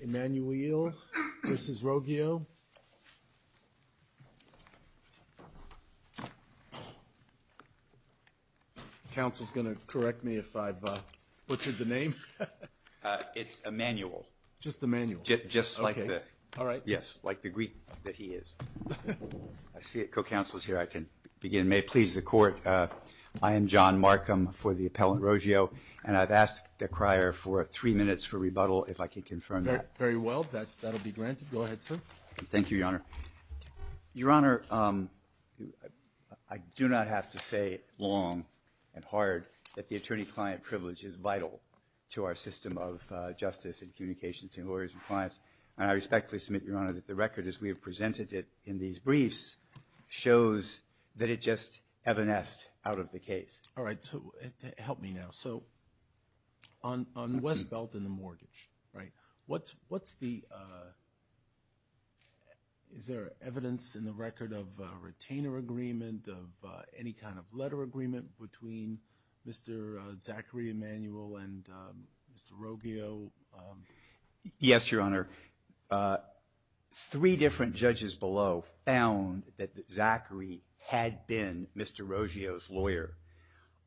Emmanuel versus Roggio. Counsel's going to correct me if I've butchered the name. It's Emmanuel. Just Emmanuel. Just like the. All right. Yes, like the Greek that he is. I see a co-counselor's here. I can begin. May it please the court. I am John Markham for the appellant Roggio, and I've asked the crier for three minutes for rebuttal if I could confirm that. Very well, that'll be granted. Go ahead, sir. Thank you, your honor. Your honor, I do not have to say long and hard that the attorney-client privilege is vital to our system of justice and communication to lawyers and clients. And I respectfully submit, your honor, that the record as we have presented it in these briefs shows that it just evanesced out of the case. All right, so help me now. So on Westbelt and the mortgage, right, what's the, is there evidence in the record of a retainer agreement of any kind of letter agreement between Mr. Zachary Emanuel and Mr. Roggio? Yes, your honor. Three different judges below found that Zachary had been Mr. Roggio's lawyer.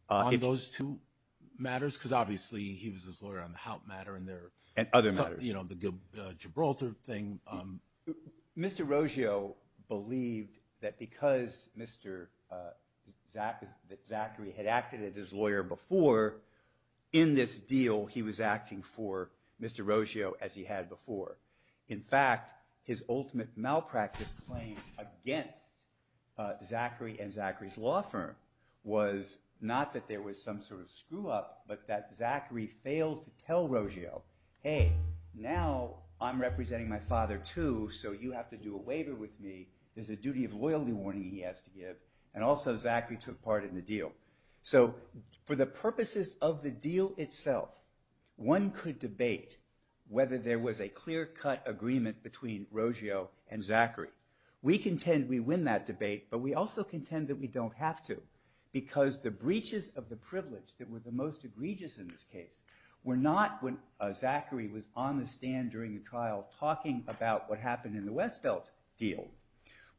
On those two matters, because obviously he was his lawyer on the Hout matter and their- And other matters. You know, the Gibraltar thing. Mr. Roggio believed that because Mr. Zachary had acted as his lawyer before, in this deal he was acting for Mr. Roggio as he had before. In fact, his ultimate malpractice claim against Zachary and was not that there was some sort of screw up, but that Zachary failed to tell Roggio, hey, now I'm representing my father too, so you have to do a waiver with me. There's a duty of loyalty warning he has to give. And also, Zachary took part in the deal. So for the purposes of the deal itself, one could debate whether there was a clear cut agreement between Roggio and Zachary. We contend we win that debate, but we also contend that we don't have to. Because the breaches of the privilege that were the most egregious in this case were not when Zachary was on the stand during a trial talking about what happened in the Westbelt deal,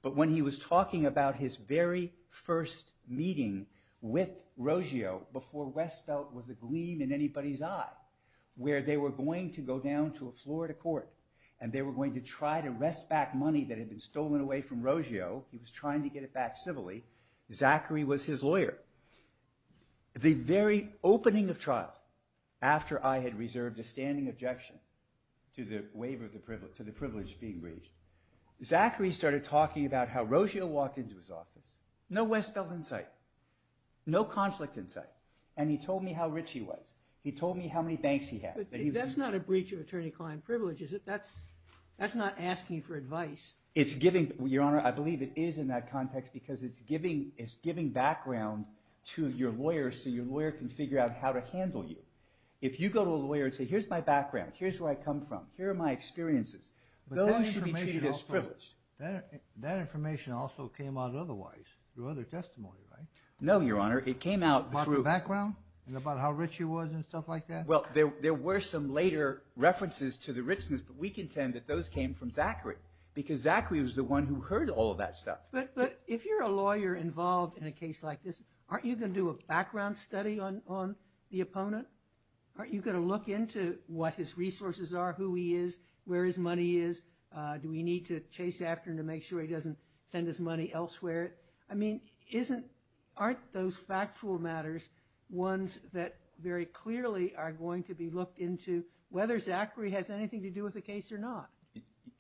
but when he was talking about his very first meeting with Roggio before Westbelt was a gleam in anybody's eye. Where they were going to go down to a Florida court, and they were going to try to wrest back money that had been stolen away from Roggio. He was trying to get it back civilly. Zachary was his lawyer. The very opening of trial, after I had reserved a standing objection to the privilege being breached, Zachary started talking about how Roggio walked into his office, no Westbelt in sight, no conflict in sight. And he told me how rich he was. He told me how many banks he had. But that's not a breach of attorney-client privilege, is it? That's not asking for advice. It's giving, Your Honor, I believe it is in that context, because it's giving background to your lawyer so your lawyer can figure out how to handle you. If you go to a lawyer and say, here's my background, here's where I come from, here are my experiences. Those should be treated as privilege. That information also came out otherwise, through other testimony, right? No, Your Honor, it came out through- About the background, and about how rich he was, and stuff like that? Well, there were some later references to the richness, but we contend that those came from Zachary. Because Zachary was the one who heard all of that stuff. But if you're a lawyer involved in a case like this, aren't you going to do a background study on the opponent? Aren't you going to look into what his resources are, who he is, where his money is, do we need to chase after him to make sure he doesn't send his money elsewhere? I mean, aren't those factual matters ones that very clearly are going to be looked into, whether Zachary has anything to do with the case or not?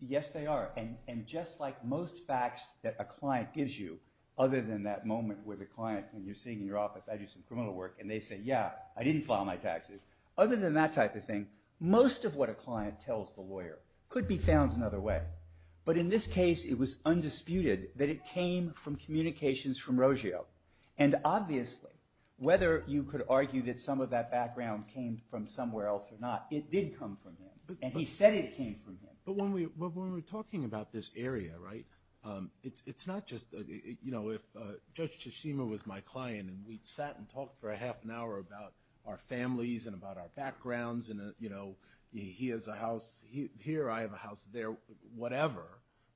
Yes, they are. And just like most facts that a client gives you, other than that moment where the client, when you're sitting in your office, I do some criminal work, and they say, yeah, I didn't file my taxes. Other than that type of thing, most of what a client tells the lawyer could be found another way. But in this case, it was undisputed that it came from communications from Roggio. And obviously, whether you could argue that some of that background came from somewhere else or not, it did come from him, and he said it came from him. But when we're talking about this area, right? It's not just, if Judge Tashima was my client, and we sat and talked for a half an hour about our families and about our backgrounds, and he has a house here, I have a house there, whatever,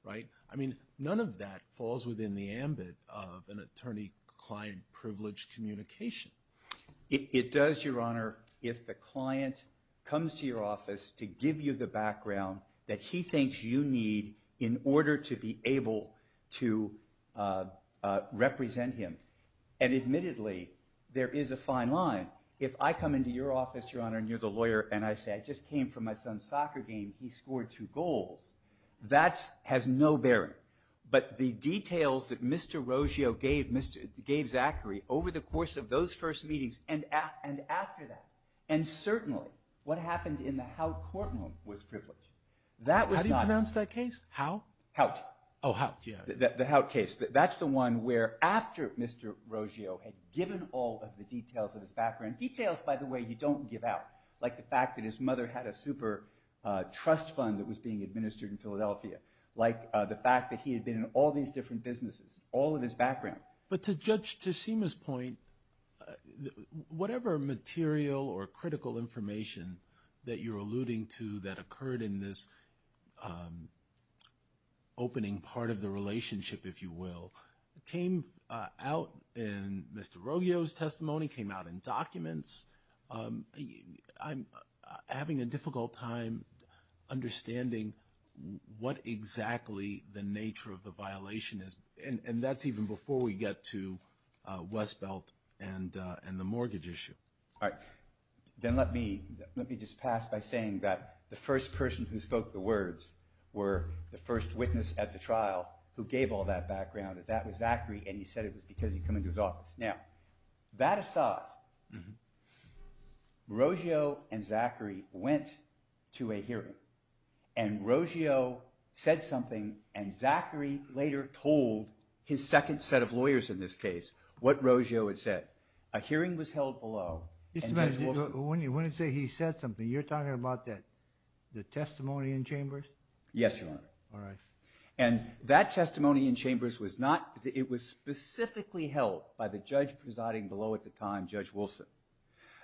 right? I mean, none of that falls within the ambit of an attorney-client privileged communication. It does, Your Honor, if the client comes to your office to give you the background that he thinks you need in order to be able to represent him. And admittedly, there is a fine line. If I come into your office, Your Honor, and you're the lawyer, and I say, I just came from my son's soccer game, he scored two goals, that has no bearing. But the details that Mr. Roggio gave Zachary over the course of those first meetings and after that. And certainly, what happened in the Hout Courtroom was privileged. That was not- How do you pronounce that case? How? Hout. Oh, Hout, yeah. The Hout case. That's the one where after Mr. Roggio had given all of the details of his background, details, by the way, you don't give out, like the fact that his mother had a super trust fund that was being administered in Philadelphia, like the fact that he had been in all these different businesses, all of his background. But to judge, to Seema's point, whatever material or critical information that you're alluding to that occurred in this opening part of the relationship, if you will, came out in Mr. Roggio's testimony, came out in documents. I'm having a difficult time understanding what exactly the nature of the violation is, and that's even before we get to Westbelt and the mortgage issue. All right, then let me just pass by saying that the first person who spoke the words were the first witness at the trial who gave all that background. That was Zachary, and he said it was because he'd come into his office. Now, that aside, Roggio and Zachary went to a hearing, and Roggio said something, and Zachary later told his second set of lawyers in this case what Roggio had said. A hearing was held below, and Judge Wilson- When you say he said something, you're talking about the testimony in chambers? Yes, Your Honor. All right. And that testimony in chambers was not, it was specifically held by the judge presiding below at the time, Judge Wilson.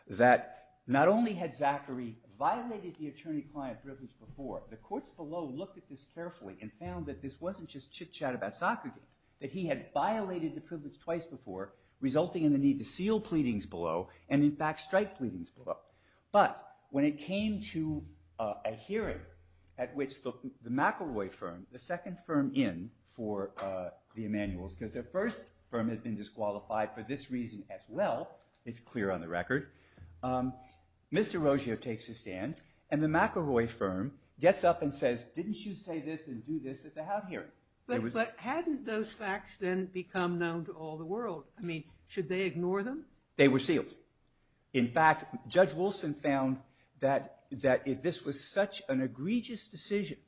That not only had Zachary violated the attorney-client prisms before, the courts below looked at this carefully and found that this wasn't just chit-chat about soccer games, that he had violated the privilege twice before, resulting in the need to seal pleadings below, and in fact, strike pleadings below. But when it came to a hearing at which the McElroy firm, the second firm in for the Emanuels, because their first firm had been disqualified for this reason as well, it's clear on the record, Mr. McElroy firm gets up and says, didn't you say this and do this at the House hearing? But hadn't those facts then become known to all the world? I mean, should they ignore them? They were sealed. In fact, Judge Wilson found that if this was such an egregious decision,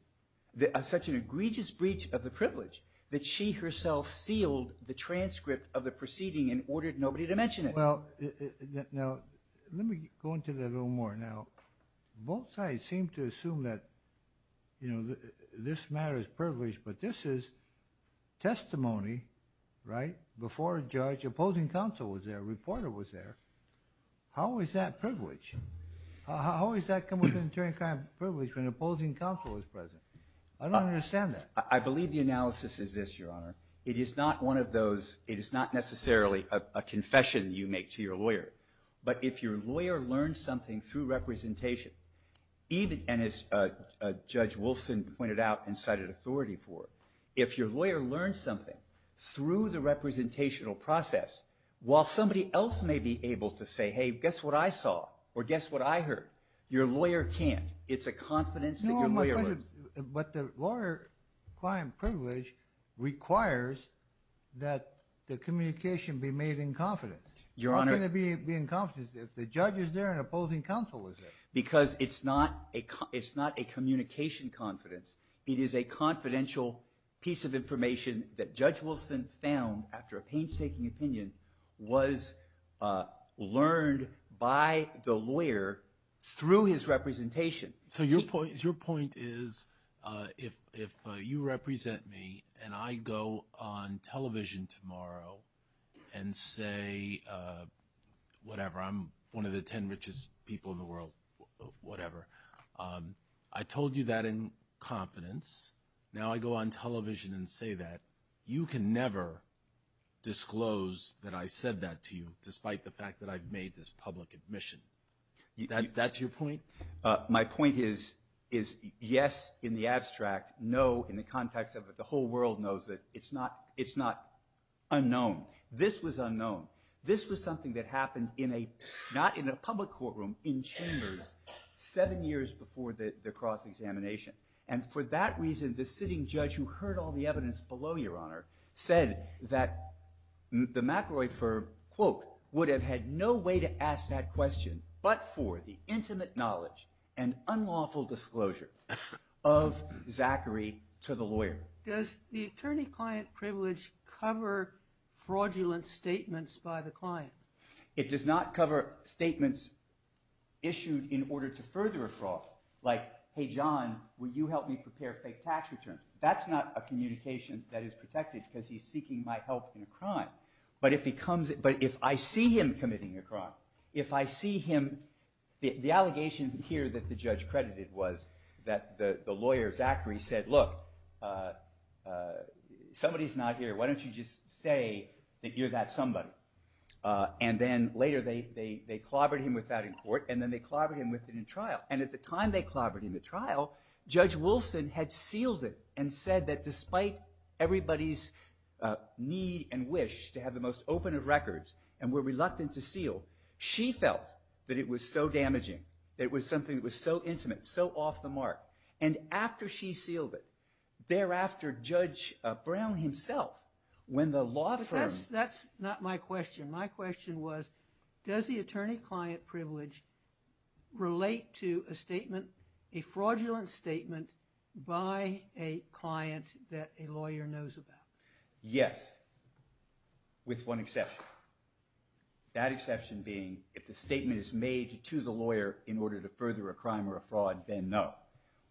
such an egregious breach of the privilege, that she herself sealed the transcript of the proceeding and ordered nobody to mention it. Well, now, let me go into that a little more. Now, both sides seem to assume that this matter is privileged, but this is testimony, right, before a judge. Opposing counsel was there, a reporter was there. How is that privilege? How does that come with an attorney kind of privilege when opposing counsel is present? I don't understand that. I believe the analysis is this, Your Honor. It is not one of those, it is not necessarily a confession you make to your lawyer. But if your lawyer learned something through representation, and as Judge Wilson pointed out and cited authority for it, if your lawyer learned something through the representational process, while somebody else may be able to say, hey, guess what I saw? Or guess what I heard? Your lawyer can't. It's a confidence that your lawyer learns. But the lawyer client privilege requires that the communication be made in confidence. Your Honor. How can it be in confidence if the judge is there and opposing counsel is there? Because it's not a communication confidence. It is a confidential piece of information that Judge Wilson found after a painstaking opinion was learned by the lawyer through his representation. So your point is, if you represent me and I go on television tomorrow and say, whatever, I'm one of the 10 richest people in the world, whatever, I told you that in confidence. Now I go on television and say that. You can never disclose that I said that to you, despite the fact that I've made this public admission. That's your point? My point is, yes, in the abstract. No, in the context of it, the whole world knows that it's not unknown. This was unknown. This was something that happened not in a public courtroom, in chambers, seven years before the cross-examination. And for that reason, the sitting judge who heard all the evidence below, Your Honor, said that the McElroy firm, quote, would have had no way to ask that question but for the intimate knowledge and unlawful disclosure of Zachary to the lawyer. Does the attorney-client privilege cover fraudulent statements by the client? It does not cover statements issued in order to further a fraud, like, hey, John, will you help me prepare fake tax returns? That's not a communication that is protected, because he's seeking my help in a crime. But if I see him committing a crime, if I see him, the allegation here that the judge credited was that the lawyer, Zachary, said, look, somebody's not here. Why don't you just say that you're that somebody? And then later, they clobbered him with that in court, and then they clobbered him with it in trial. And at the time they clobbered him in trial, Judge Wilson had sealed it and said that despite everybody's need and wish to have the most open of records and were reluctant to seal, she felt that it was so damaging, that it was something that was so intimate, so off the mark. And after she sealed it, thereafter, Judge Brown himself, when the law firm. That's not my question. My question was, does the attorney-client privilege relate to a statement, a fraudulent statement, by a client that a lawyer knows about? Yes, with one exception, that exception being if the statement is made to the lawyer in order to further a crime or a fraud, then no.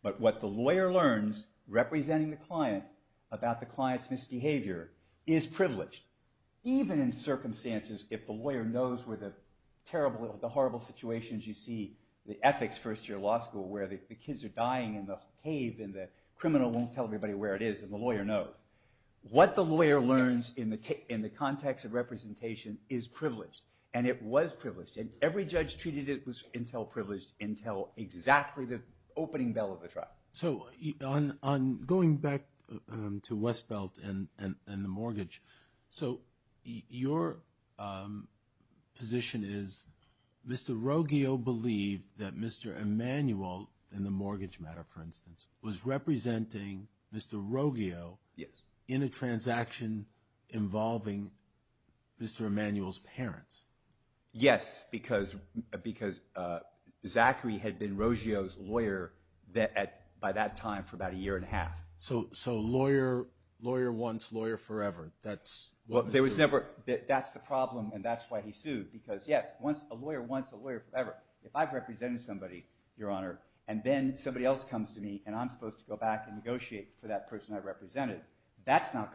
But what the lawyer learns, representing the client about the client's misbehavior, is privileged. Even in circumstances if the lawyer knows where the horrible situations you see, the ethics first year law school where the kids are dying in the cave and the criminal won't tell everybody where it is and the lawyer knows. What the lawyer learns in the context of representation is privileged. And it was privileged. Every judge treated it until privileged, until exactly the opening bell of the trial. So on going back to Westbelt and the mortgage, so your position is Mr. Roggio believed that Mr. Emanuel, in the mortgage matter for instance, was representing Mr. Roggio in a transaction involving Mr. Emanuel's parents. Yes, because Zachary had been Roggio's lawyer by that time for about a year and a half. So lawyer once, lawyer forever, that's what was true. That's the problem and that's why he sued. Because yes, a lawyer once, a lawyer forever. If I've represented somebody, Your Honor, and then somebody else comes to me and I'm supposed to go back and negotiate for that person I represented, that's saying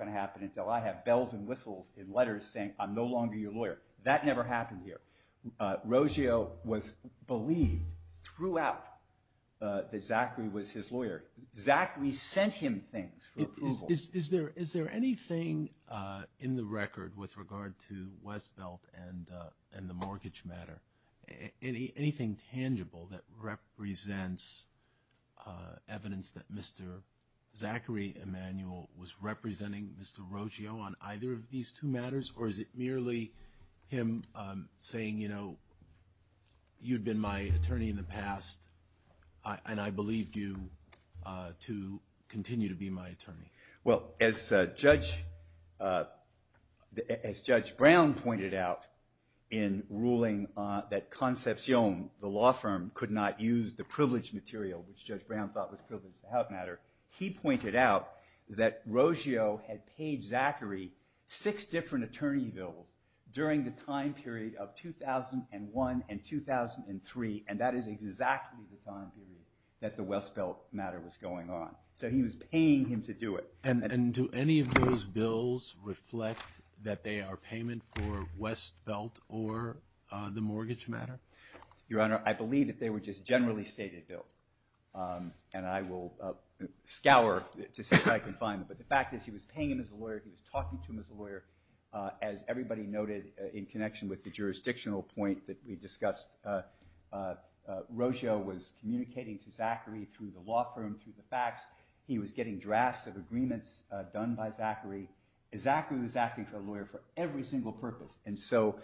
I'm no longer your lawyer. That never happened here. Roggio was believed throughout that Zachary was his lawyer. Zachary sent him things for approval. Is there anything in the record with regard to Westbelt and the mortgage matter, anything tangible that represents evidence that Mr. Zachary Emanuel was representing Mr. Roggio on either of these two matters? Or is it merely him saying, you'd been my attorney in the past and I believed you to continue to be my attorney? Well, as Judge Brown pointed out in ruling that Concepcion, the law firm, could not use the privileged material, which Judge Brown thought was privileged to help matter, he pointed out that Roggio had paid Zachary six different attorney bills during the time period of 2001 and 2003. And that is exactly the time period that the Westbelt matter was going on. So he was paying him to do it. And do any of those bills reflect that they are payment for Westbelt or the mortgage matter? Your Honor, I believe that they were just generally stated bills. And I will scour to see if I can find them. But the fact is he was paying him as a lawyer. He was talking to him as a lawyer. As everybody noted in connection with the jurisdictional point that we discussed, Roggio was communicating to Zachary through the law firm, through the facts. He was getting drafts of agreements done by Zachary. Zachary was acting for a lawyer for every single purpose. And so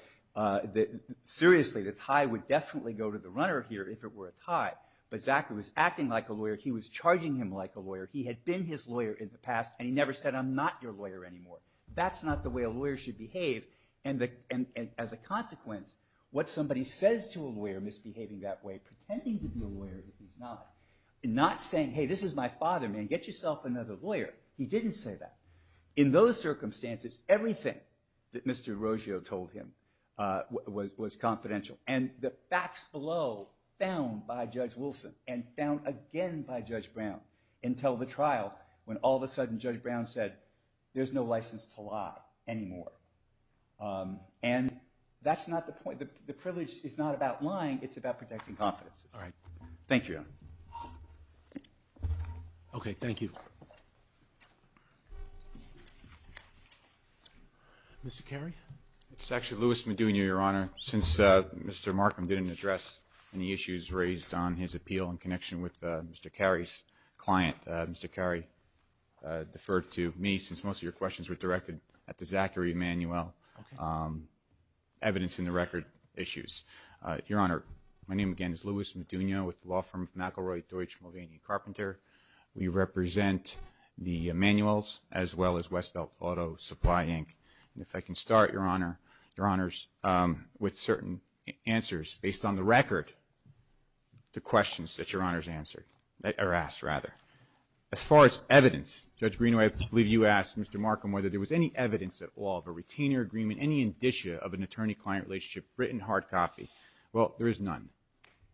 seriously, the tie would definitely go to the runner here if it were a tie. But Zachary was acting like a lawyer. He was charging him like a lawyer. He had been his lawyer in the past. And he never said, I'm not your lawyer anymore. That's not the way a lawyer should behave. And as a consequence, what somebody says to a lawyer misbehaving that way, pretending to be a lawyer, he's not. Not saying, hey, this is my father, man. Get yourself another lawyer. He didn't say that. In those circumstances, everything that Mr. Roggio told him was confidential. And the facts below, found by Judge Wilson and found again by Judge Brown until the trial, when all of a sudden Judge Brown said, there's no license to lie anymore. And that's not the point. The privilege is not about lying. It's about protecting confidences. Thank you. OK. Thank you. Mr. Carey? It's actually Lewis Madunia, Your Honor. Since Mr. Markham didn't address any issues raised on his appeal in connection with Mr. Carey's client, Mr. Carey deferred to me, since most of your questions were directed at the Zachary Emanuel evidence in the record issues. Your Honor, my name again is Lewis Madunia with the law firm McElroy Deutsch Mulvaney Carpenter. We represent the Emanuels as well as Westbelt Auto Supply Inc. And if I can start, Your Honors, with certain answers based on the record, the questions that Your Honors answered, or asked rather. As far as evidence, Judge Greenway, I believe you asked Mr. Markham whether there was any evidence at all of a retainer agreement, any indicia of an attorney-client relationship written hard copy. Well, there is none.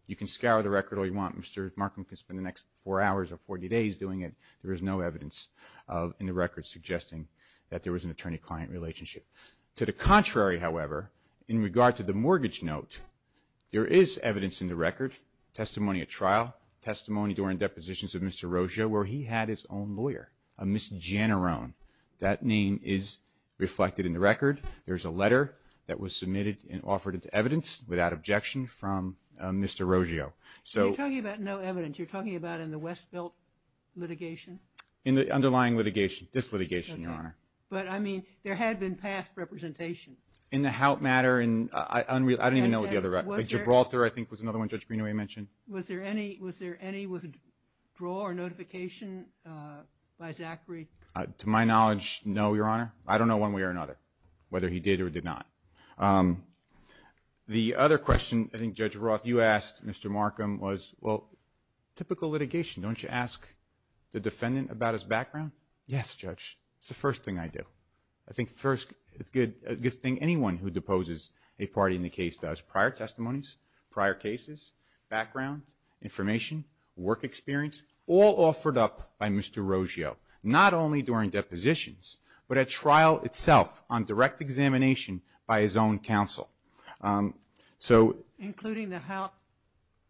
You can scour the record all you want. Mr. Markham can spend the next four hours or 40 days doing it. There is no evidence in the record suggesting that there was an attorney-client relationship. To the contrary, however, in regard to the mortgage note, there is evidence in the record, testimony at trial, testimony during depositions of Mr. Roggio where he had his own lawyer, a Ms. Giannarone. That name is reflected in the record. There's a letter that was submitted and offered as evidence without objection from Mr. Roggio. So you're talking about no evidence. You're talking about in the Westbelt litigation? In the underlying litigation, this litigation, Your Honor. But I mean, there had been past representation. In the HOUT matter, I don't even know Gibraltar, I think, was another one Judge Greenaway mentioned. Was there any withdrawal or notification by Zachary? To my knowledge, no, Your Honor. I don't know one way or another whether he did or did not. The other question, I think, Judge Roth, you asked Mr. Markham was, well, typical litigation. Don't you ask the defendant about his background? Yes, Judge, it's the first thing I do. I think first, it's a good thing anyone who deposes a party in the case does. Prior testimonies, prior cases, background, information, work experience, all offered up by Mr. Roggio. Not only during depositions, but at trial itself on direct examination by his own counsel. So. Including the HOUT?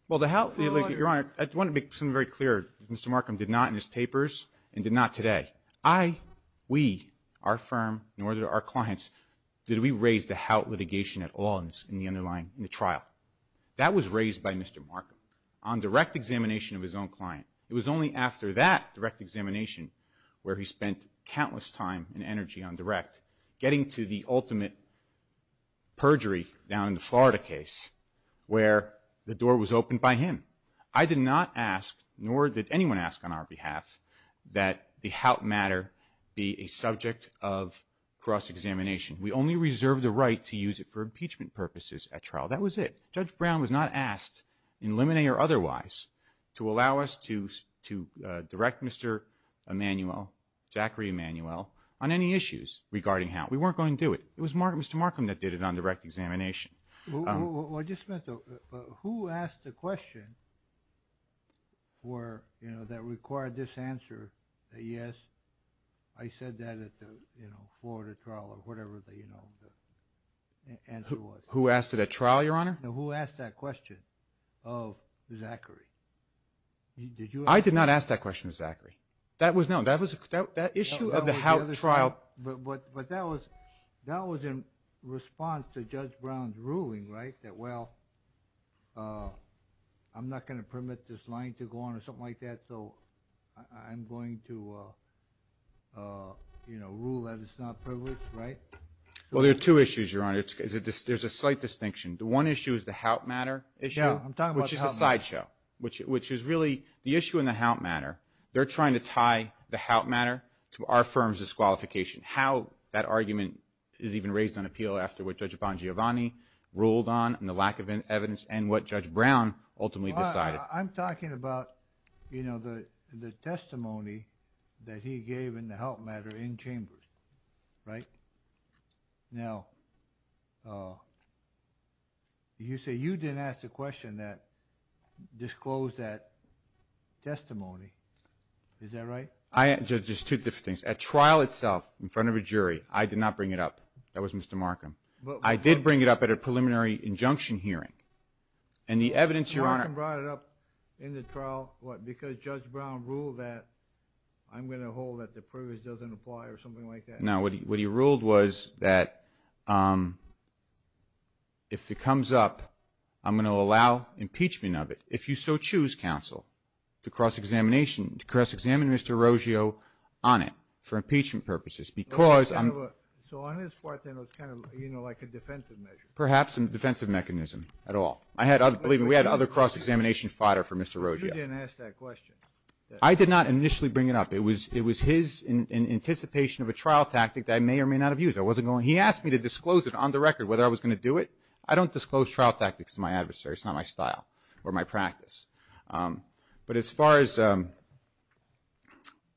Well, the HOUT, Your Honor, I want to make something very clear, Mr. Markham did not in his papers and did not today. I, we, our firm, nor did our clients, did we raise the HOUT litigation at all in the underlying, in the trial. That was raised by Mr. Markham on direct examination of his own client. It was only after that direct examination where he spent countless time and energy on direct getting to the ultimate perjury down in the Florida case where the door was opened by him. I did not ask, nor did anyone ask on our behalf, that the HOUT matter be a subject of cross-examination. We only reserved the right to use it for impeachment purposes at trial. That was it. Judge Brown was not asked, in limine or otherwise, to allow us to direct Mr. Emanuel, Zachary Emanuel, on any issues regarding HOUT. We weren't going to do it. It was Mr. Markham that did it on direct examination. Well, I just meant to, who asked the question that required this answer, that yes, I said that at the Florida trial or whatever the answer was. Who asked it at trial, Your Honor? No, who asked that question of Zachary? I did not ask that question of Zachary. That was known. That issue of the HOUT trial. But that was in response to Judge Brown's ruling, right, well, I'm not going to permit this line to go on or something like that. So I'm going to rule that it's not privileged, right? Well, there are two issues, Your Honor. There's a slight distinction. The one issue is the HOUT matter issue, which is a sideshow, which is really the issue in the HOUT matter. They're trying to tie the HOUT matter to our firm's disqualification. How that argument is even raised on appeal after what Judge Bongiovanni ruled on and the lack of evidence and what Judge Brown ultimately decided. I'm talking about the testimony that he gave in the HOUT matter in chambers, right? Now, you say you didn't ask the question that disclosed that testimony. Is that right? I, just two different things. At trial itself, in front of a jury, I did not bring it up. That was Mr. Markham. I did bring it up at a preliminary injunction hearing. And the evidence, Your Honor- Mr. Markham brought it up in the trial, what, because Judge Brown ruled that I'm going to hold that the privilege doesn't apply or something like that. No, what he ruled was that if it comes up, I'm going to allow impeachment of it. If you so choose, counsel, to cross-examine Mr. Roggio on it for impeachment purposes, because I'm- So on his part, then, it was kind of, you know, like a defensive measure. Perhaps a defensive mechanism at all. I had other, believe me, we had other cross-examination fodder for Mr. Roggio. You didn't ask that question. I did not initially bring it up. It was his anticipation of a trial tactic that I may or may not have used. I wasn't going, he asked me to disclose it on the record, whether I was going to do it. I don't disclose trial tactics to my adversaries. It's not my style or my practice. But as far as,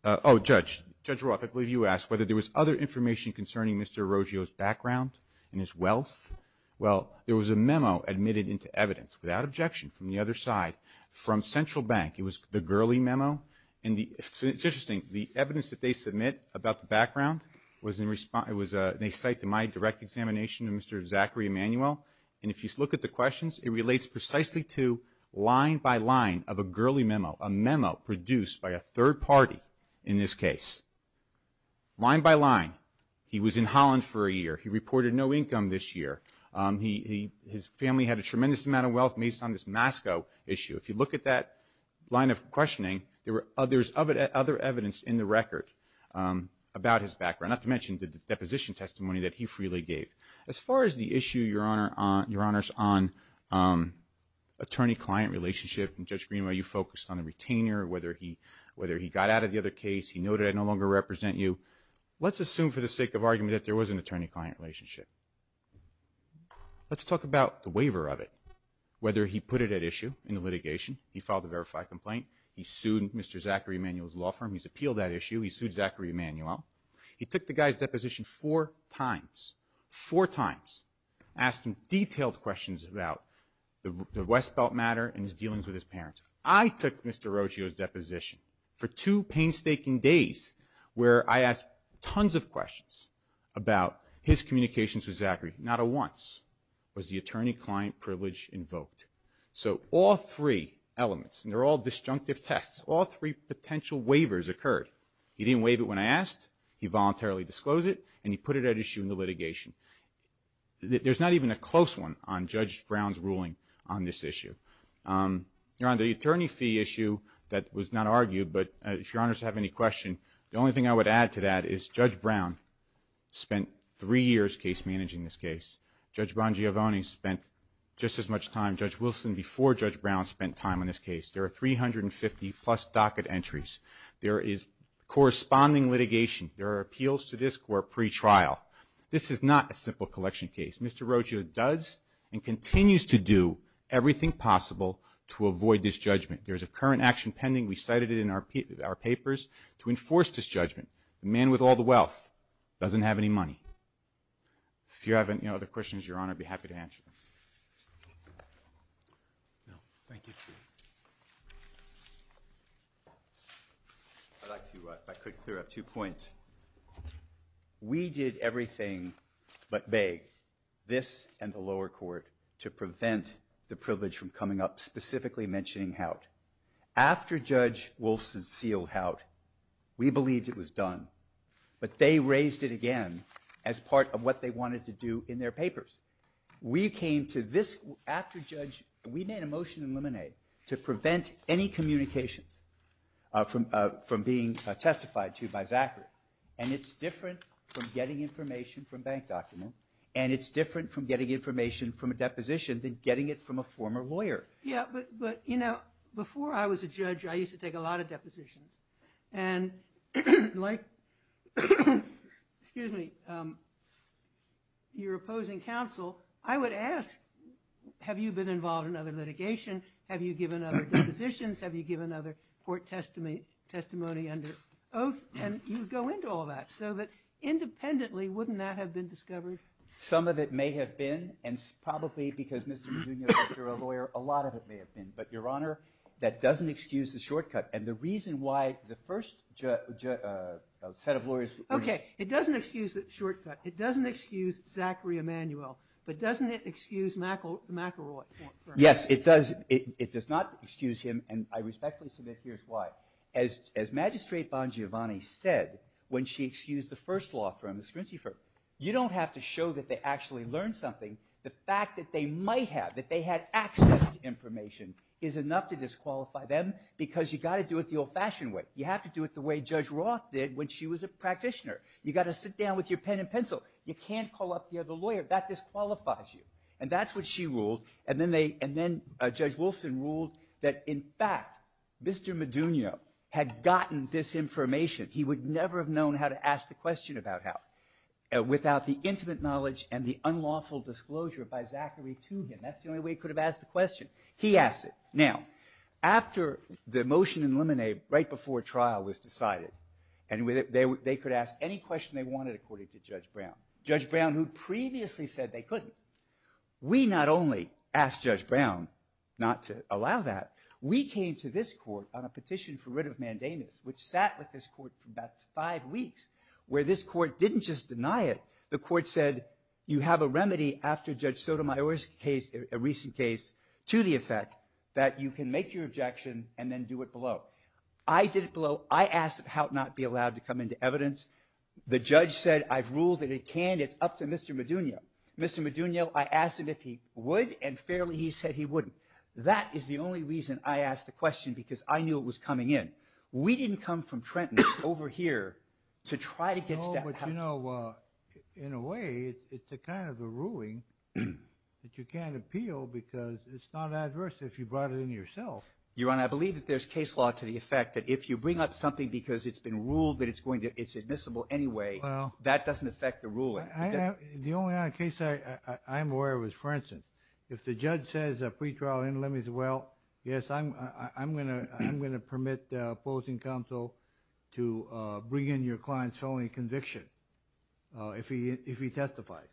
oh, Judge Roth, I believe you asked whether there was other information concerning Mr. Roggio's background and his wealth, well, there was a memo admitted into evidence, without objection, from the other side, from Central Bank. It was the Gurley Memo, and it's interesting. The evidence that they submit about the background was in response, it was, they cited my direct examination of Mr. Zachary Emanuel, and if you look at the questions, it relates precisely to line by line of a Gurley Memo, a memo produced by a third party in this case. Line by line, he was in Holland for a year. He reported no income this year. His family had a tremendous amount of wealth based on this Masco issue. If you look at that line of questioning, there's other evidence in the record about his background, not to mention the deposition testimony that he freely gave. As far as the issue, Your Honors, on attorney-client relationship, and Judge Greenwell, you focused on the retainer, whether he got out of the other case. He noted, I no longer represent you. Let's assume for the sake of argument that there was an attorney-client relationship. Let's talk about the waiver of it, whether he put it at issue in the litigation. He filed a verified complaint. He sued Mr. Zachary Emanuel's law firm. He's appealed that issue. He sued Zachary Emanuel. He took the guy's deposition four times, four times. Asked him detailed questions about the Westbelt matter and his dealings with his parents. I took Mr. Rocio's deposition for two painstaking days, where I asked tons of questions about his communications with Zachary. Not a once was the attorney-client privilege invoked. So all three elements, and they're all disjunctive tests, all three potential waivers occurred. He didn't waive it when I asked. He voluntarily disclosed it, and he put it at issue in the litigation. There's not even a close one on Judge Brown's ruling on this issue. Your Honor, the attorney fee issue that was not argued, but if Your Honors have any question, the only thing I would add to that is Judge Brown spent three years case managing this case. Judge Bongiovanni spent just as much time. Judge Wilson before Judge Brown spent time on this case. There are 350 plus docket entries. There is corresponding litigation. There are appeals to this court pre-trial. This is not a simple collection case. Mr. Rocio does and continues to do everything possible to avoid disjudgment. There's a current action pending. We cited it in our papers to enforce disjudgment. The man with all the wealth doesn't have any money. If you have any other questions, Your Honor, I'd be happy to answer them. No, thank you. I'd like to, if I could, clear up two points. We did everything but beg this and the lower court to prevent the privilege from coming up, specifically mentioning Houtt. After Judge Wilson sealed Houtt, we believed it was done, but they raised it again as part of what they wanted to do in their papers. We came to this, after Judge, we made a motion in Lemonade to prevent any communications from being testified to by Zachary, and it's different from getting information from bank document, and it's different from getting information from a deposition than getting it from a former lawyer. But, you know, before I was a judge, I used to take a lot of depositions, and like, excuse me, your opposing counsel, I would ask, have you been involved in other litigation? Have you given other depositions? Have you given other court testimony under oath? And you would go into all that, so that independently, wouldn't that have been discovered? Some of it may have been, and probably because you're a lawyer, a lot of it may have been, but your honor, that doesn't excuse the shortcut, and the reason why the first set of lawyers. Okay, it doesn't excuse the shortcut, it doesn't excuse Zachary Emanuel, but doesn't it excuse McElroy? Yes, it does, it does not excuse him, and I respectfully submit here's why. As Magistrate Bongiovanni said, when she excused the first law firm, the Scrincy firm, you don't have to show that they actually learned something, the fact that they might have, that they had access to information, is enough to disqualify them, because you gotta do it the old-fashioned way. You have to do it the way Judge Roth did when she was a practitioner. You gotta sit down with your pen and pencil. You can't call up the other lawyer, that disqualifies you. And that's what she ruled, and then Judge Wilson ruled that in fact, Mr. Madunio had gotten this information, he would never have known how to ask the question about how, without the intimate knowledge and the unlawful disclosure by Zachary to him. That's the only way he could have asked the question. He asked it. Now, after the motion in limine, right before trial was decided, and they could ask any question they wanted according to Judge Brown. Judge Brown, who previously said they couldn't. We not only asked Judge Brown not to allow that, we came to this court on a petition for writ of mandamus, which sat with this court for about five weeks, where this court didn't just deny it. The court said, you have a remedy after Judge Sotomayor's case, a recent case, to the effect that you can make your objection and then do it below. I did it below. I asked how it not be allowed to come into evidence. The judge said, I've ruled that it can. It's up to Mr. Madunio. Mr. Madunio, I asked him if he would, and fairly, he said he wouldn't. That is the only reason I asked the question because I knew it was coming in. We didn't come from Trenton over here to try to get that out. No, but you know, in a way, it's a kind of a ruling that you can't appeal because it's not adverse if you brought it in yourself. Your Honor, I believe that there's case law to the effect that if you bring up something because it's been ruled that it's admissible anyway, that doesn't affect the ruling. The only other case I'm aware of is, for instance, if the judge says a pretrial in limits, he says, well, yes, I'm gonna permit the opposing counsel to bring in your client's felony conviction if he testifies.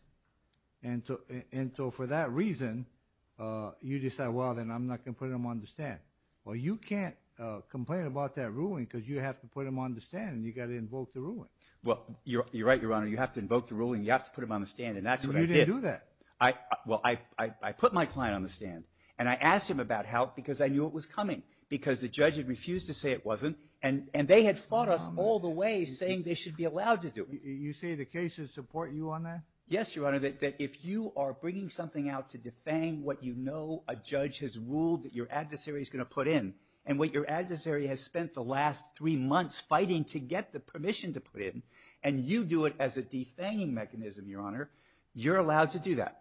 For that reason, you decide, well, then I'm not gonna put him on the stand. Well, you can't complain about that ruling because you have to put him on the stand and you gotta invoke the ruling. Well, you're right, Your Honor. You have to invoke the ruling. You have to put him on the stand, and that's what I did. You didn't do that. Well, I put my client on the stand, and I asked him about help because I knew it was coming because the judge had refused to say it wasn't, and they had fought us all the way saying they should be allowed to do it. You say the cases support you on that? Yes, Your Honor, that if you are bringing something out to defang what you know a judge has ruled that your adversary's gonna put in, and what your adversary has spent the last three months fighting to get the permission to put in, and you do it as a defanging mechanism, Your Honor, you're allowed to do that.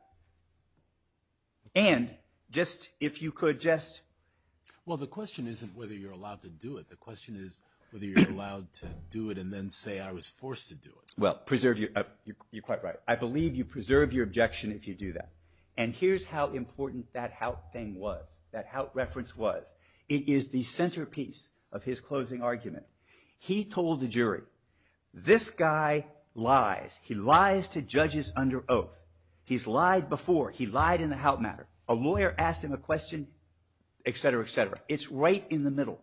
And just, if you could just... Well, the question isn't whether you're allowed to do it. The question is whether you're allowed to do it and then say I was forced to do it. Well, preserve your, you're quite right. I believe you preserve your objection if you do that. And here's how important that Hout thing was, that Hout reference was. It is the centerpiece of his closing argument. He told the jury, this guy lies. He lies to judges under oath. He's lied before. He lied in the Hout matter. A lawyer asked him a question, et cetera, et cetera. It's right in the middle.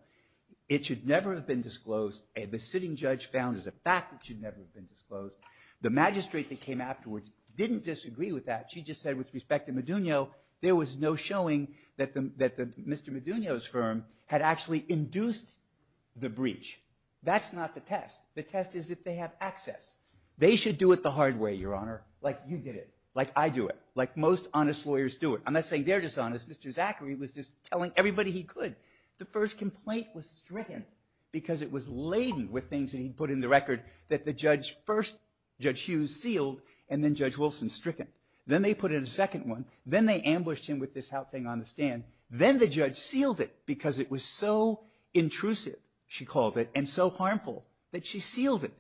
It should never have been disclosed. The sitting judge found as a fact it should never have been disclosed. The magistrate that came afterwards didn't disagree with that. She just said with respect to Madunio, there was no showing that Mr. Madunio's firm had actually induced the breach. That's not the test. The test is if they have access. They should do it the hard way, Your Honor. Like you did it. Like I do it. Like most honest lawyers do it. I'm not saying they're dishonest. Mr. Zachary was just telling everybody he could. The first complaint was stricken because it was laden with things that he'd put in the record that the judge first, Judge Hughes, sealed, and then Judge Wilson stricken. Then they put in a second one. Then they ambushed him with this Hout thing on the stand. Then the judge sealed it because it was so intrusive, she called it, and so harmful that she sealed it.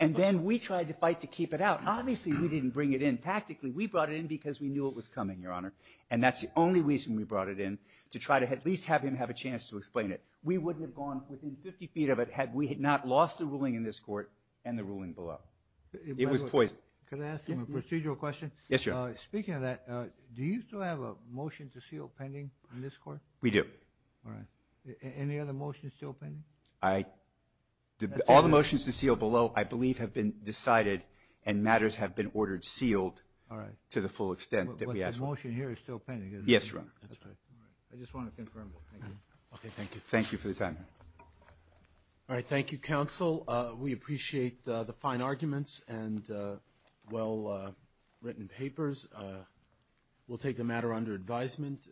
And then we tried to fight to keep it out. Obviously, we didn't bring it in. Practically, we brought it in because we knew it was coming, Your Honor. And that's the only reason we brought it in, to try to at least have him have a chance to explain it. We wouldn't have gone within 50 feet of it had we not lost the ruling in this court and the ruling below. It was poison. Could I ask him a procedural question? Yes, Your Honor. Speaking of that, do you still have a motion to seal pending in this court? We do. All right. Any other motions still pending? I, all the motions to seal below, I believe, have been decided and matters have been ordered sealed to the full extent that we asked for. But the motion here is still pending, isn't it? Yes, Your Honor. That's right. All right, I just want to confirm that. Thank you. Okay, thank you. Thank you for your time, Your Honor. All right, thank you, counsel. We appreciate the fine arguments and well-written papers. We'll take the matter under advisement.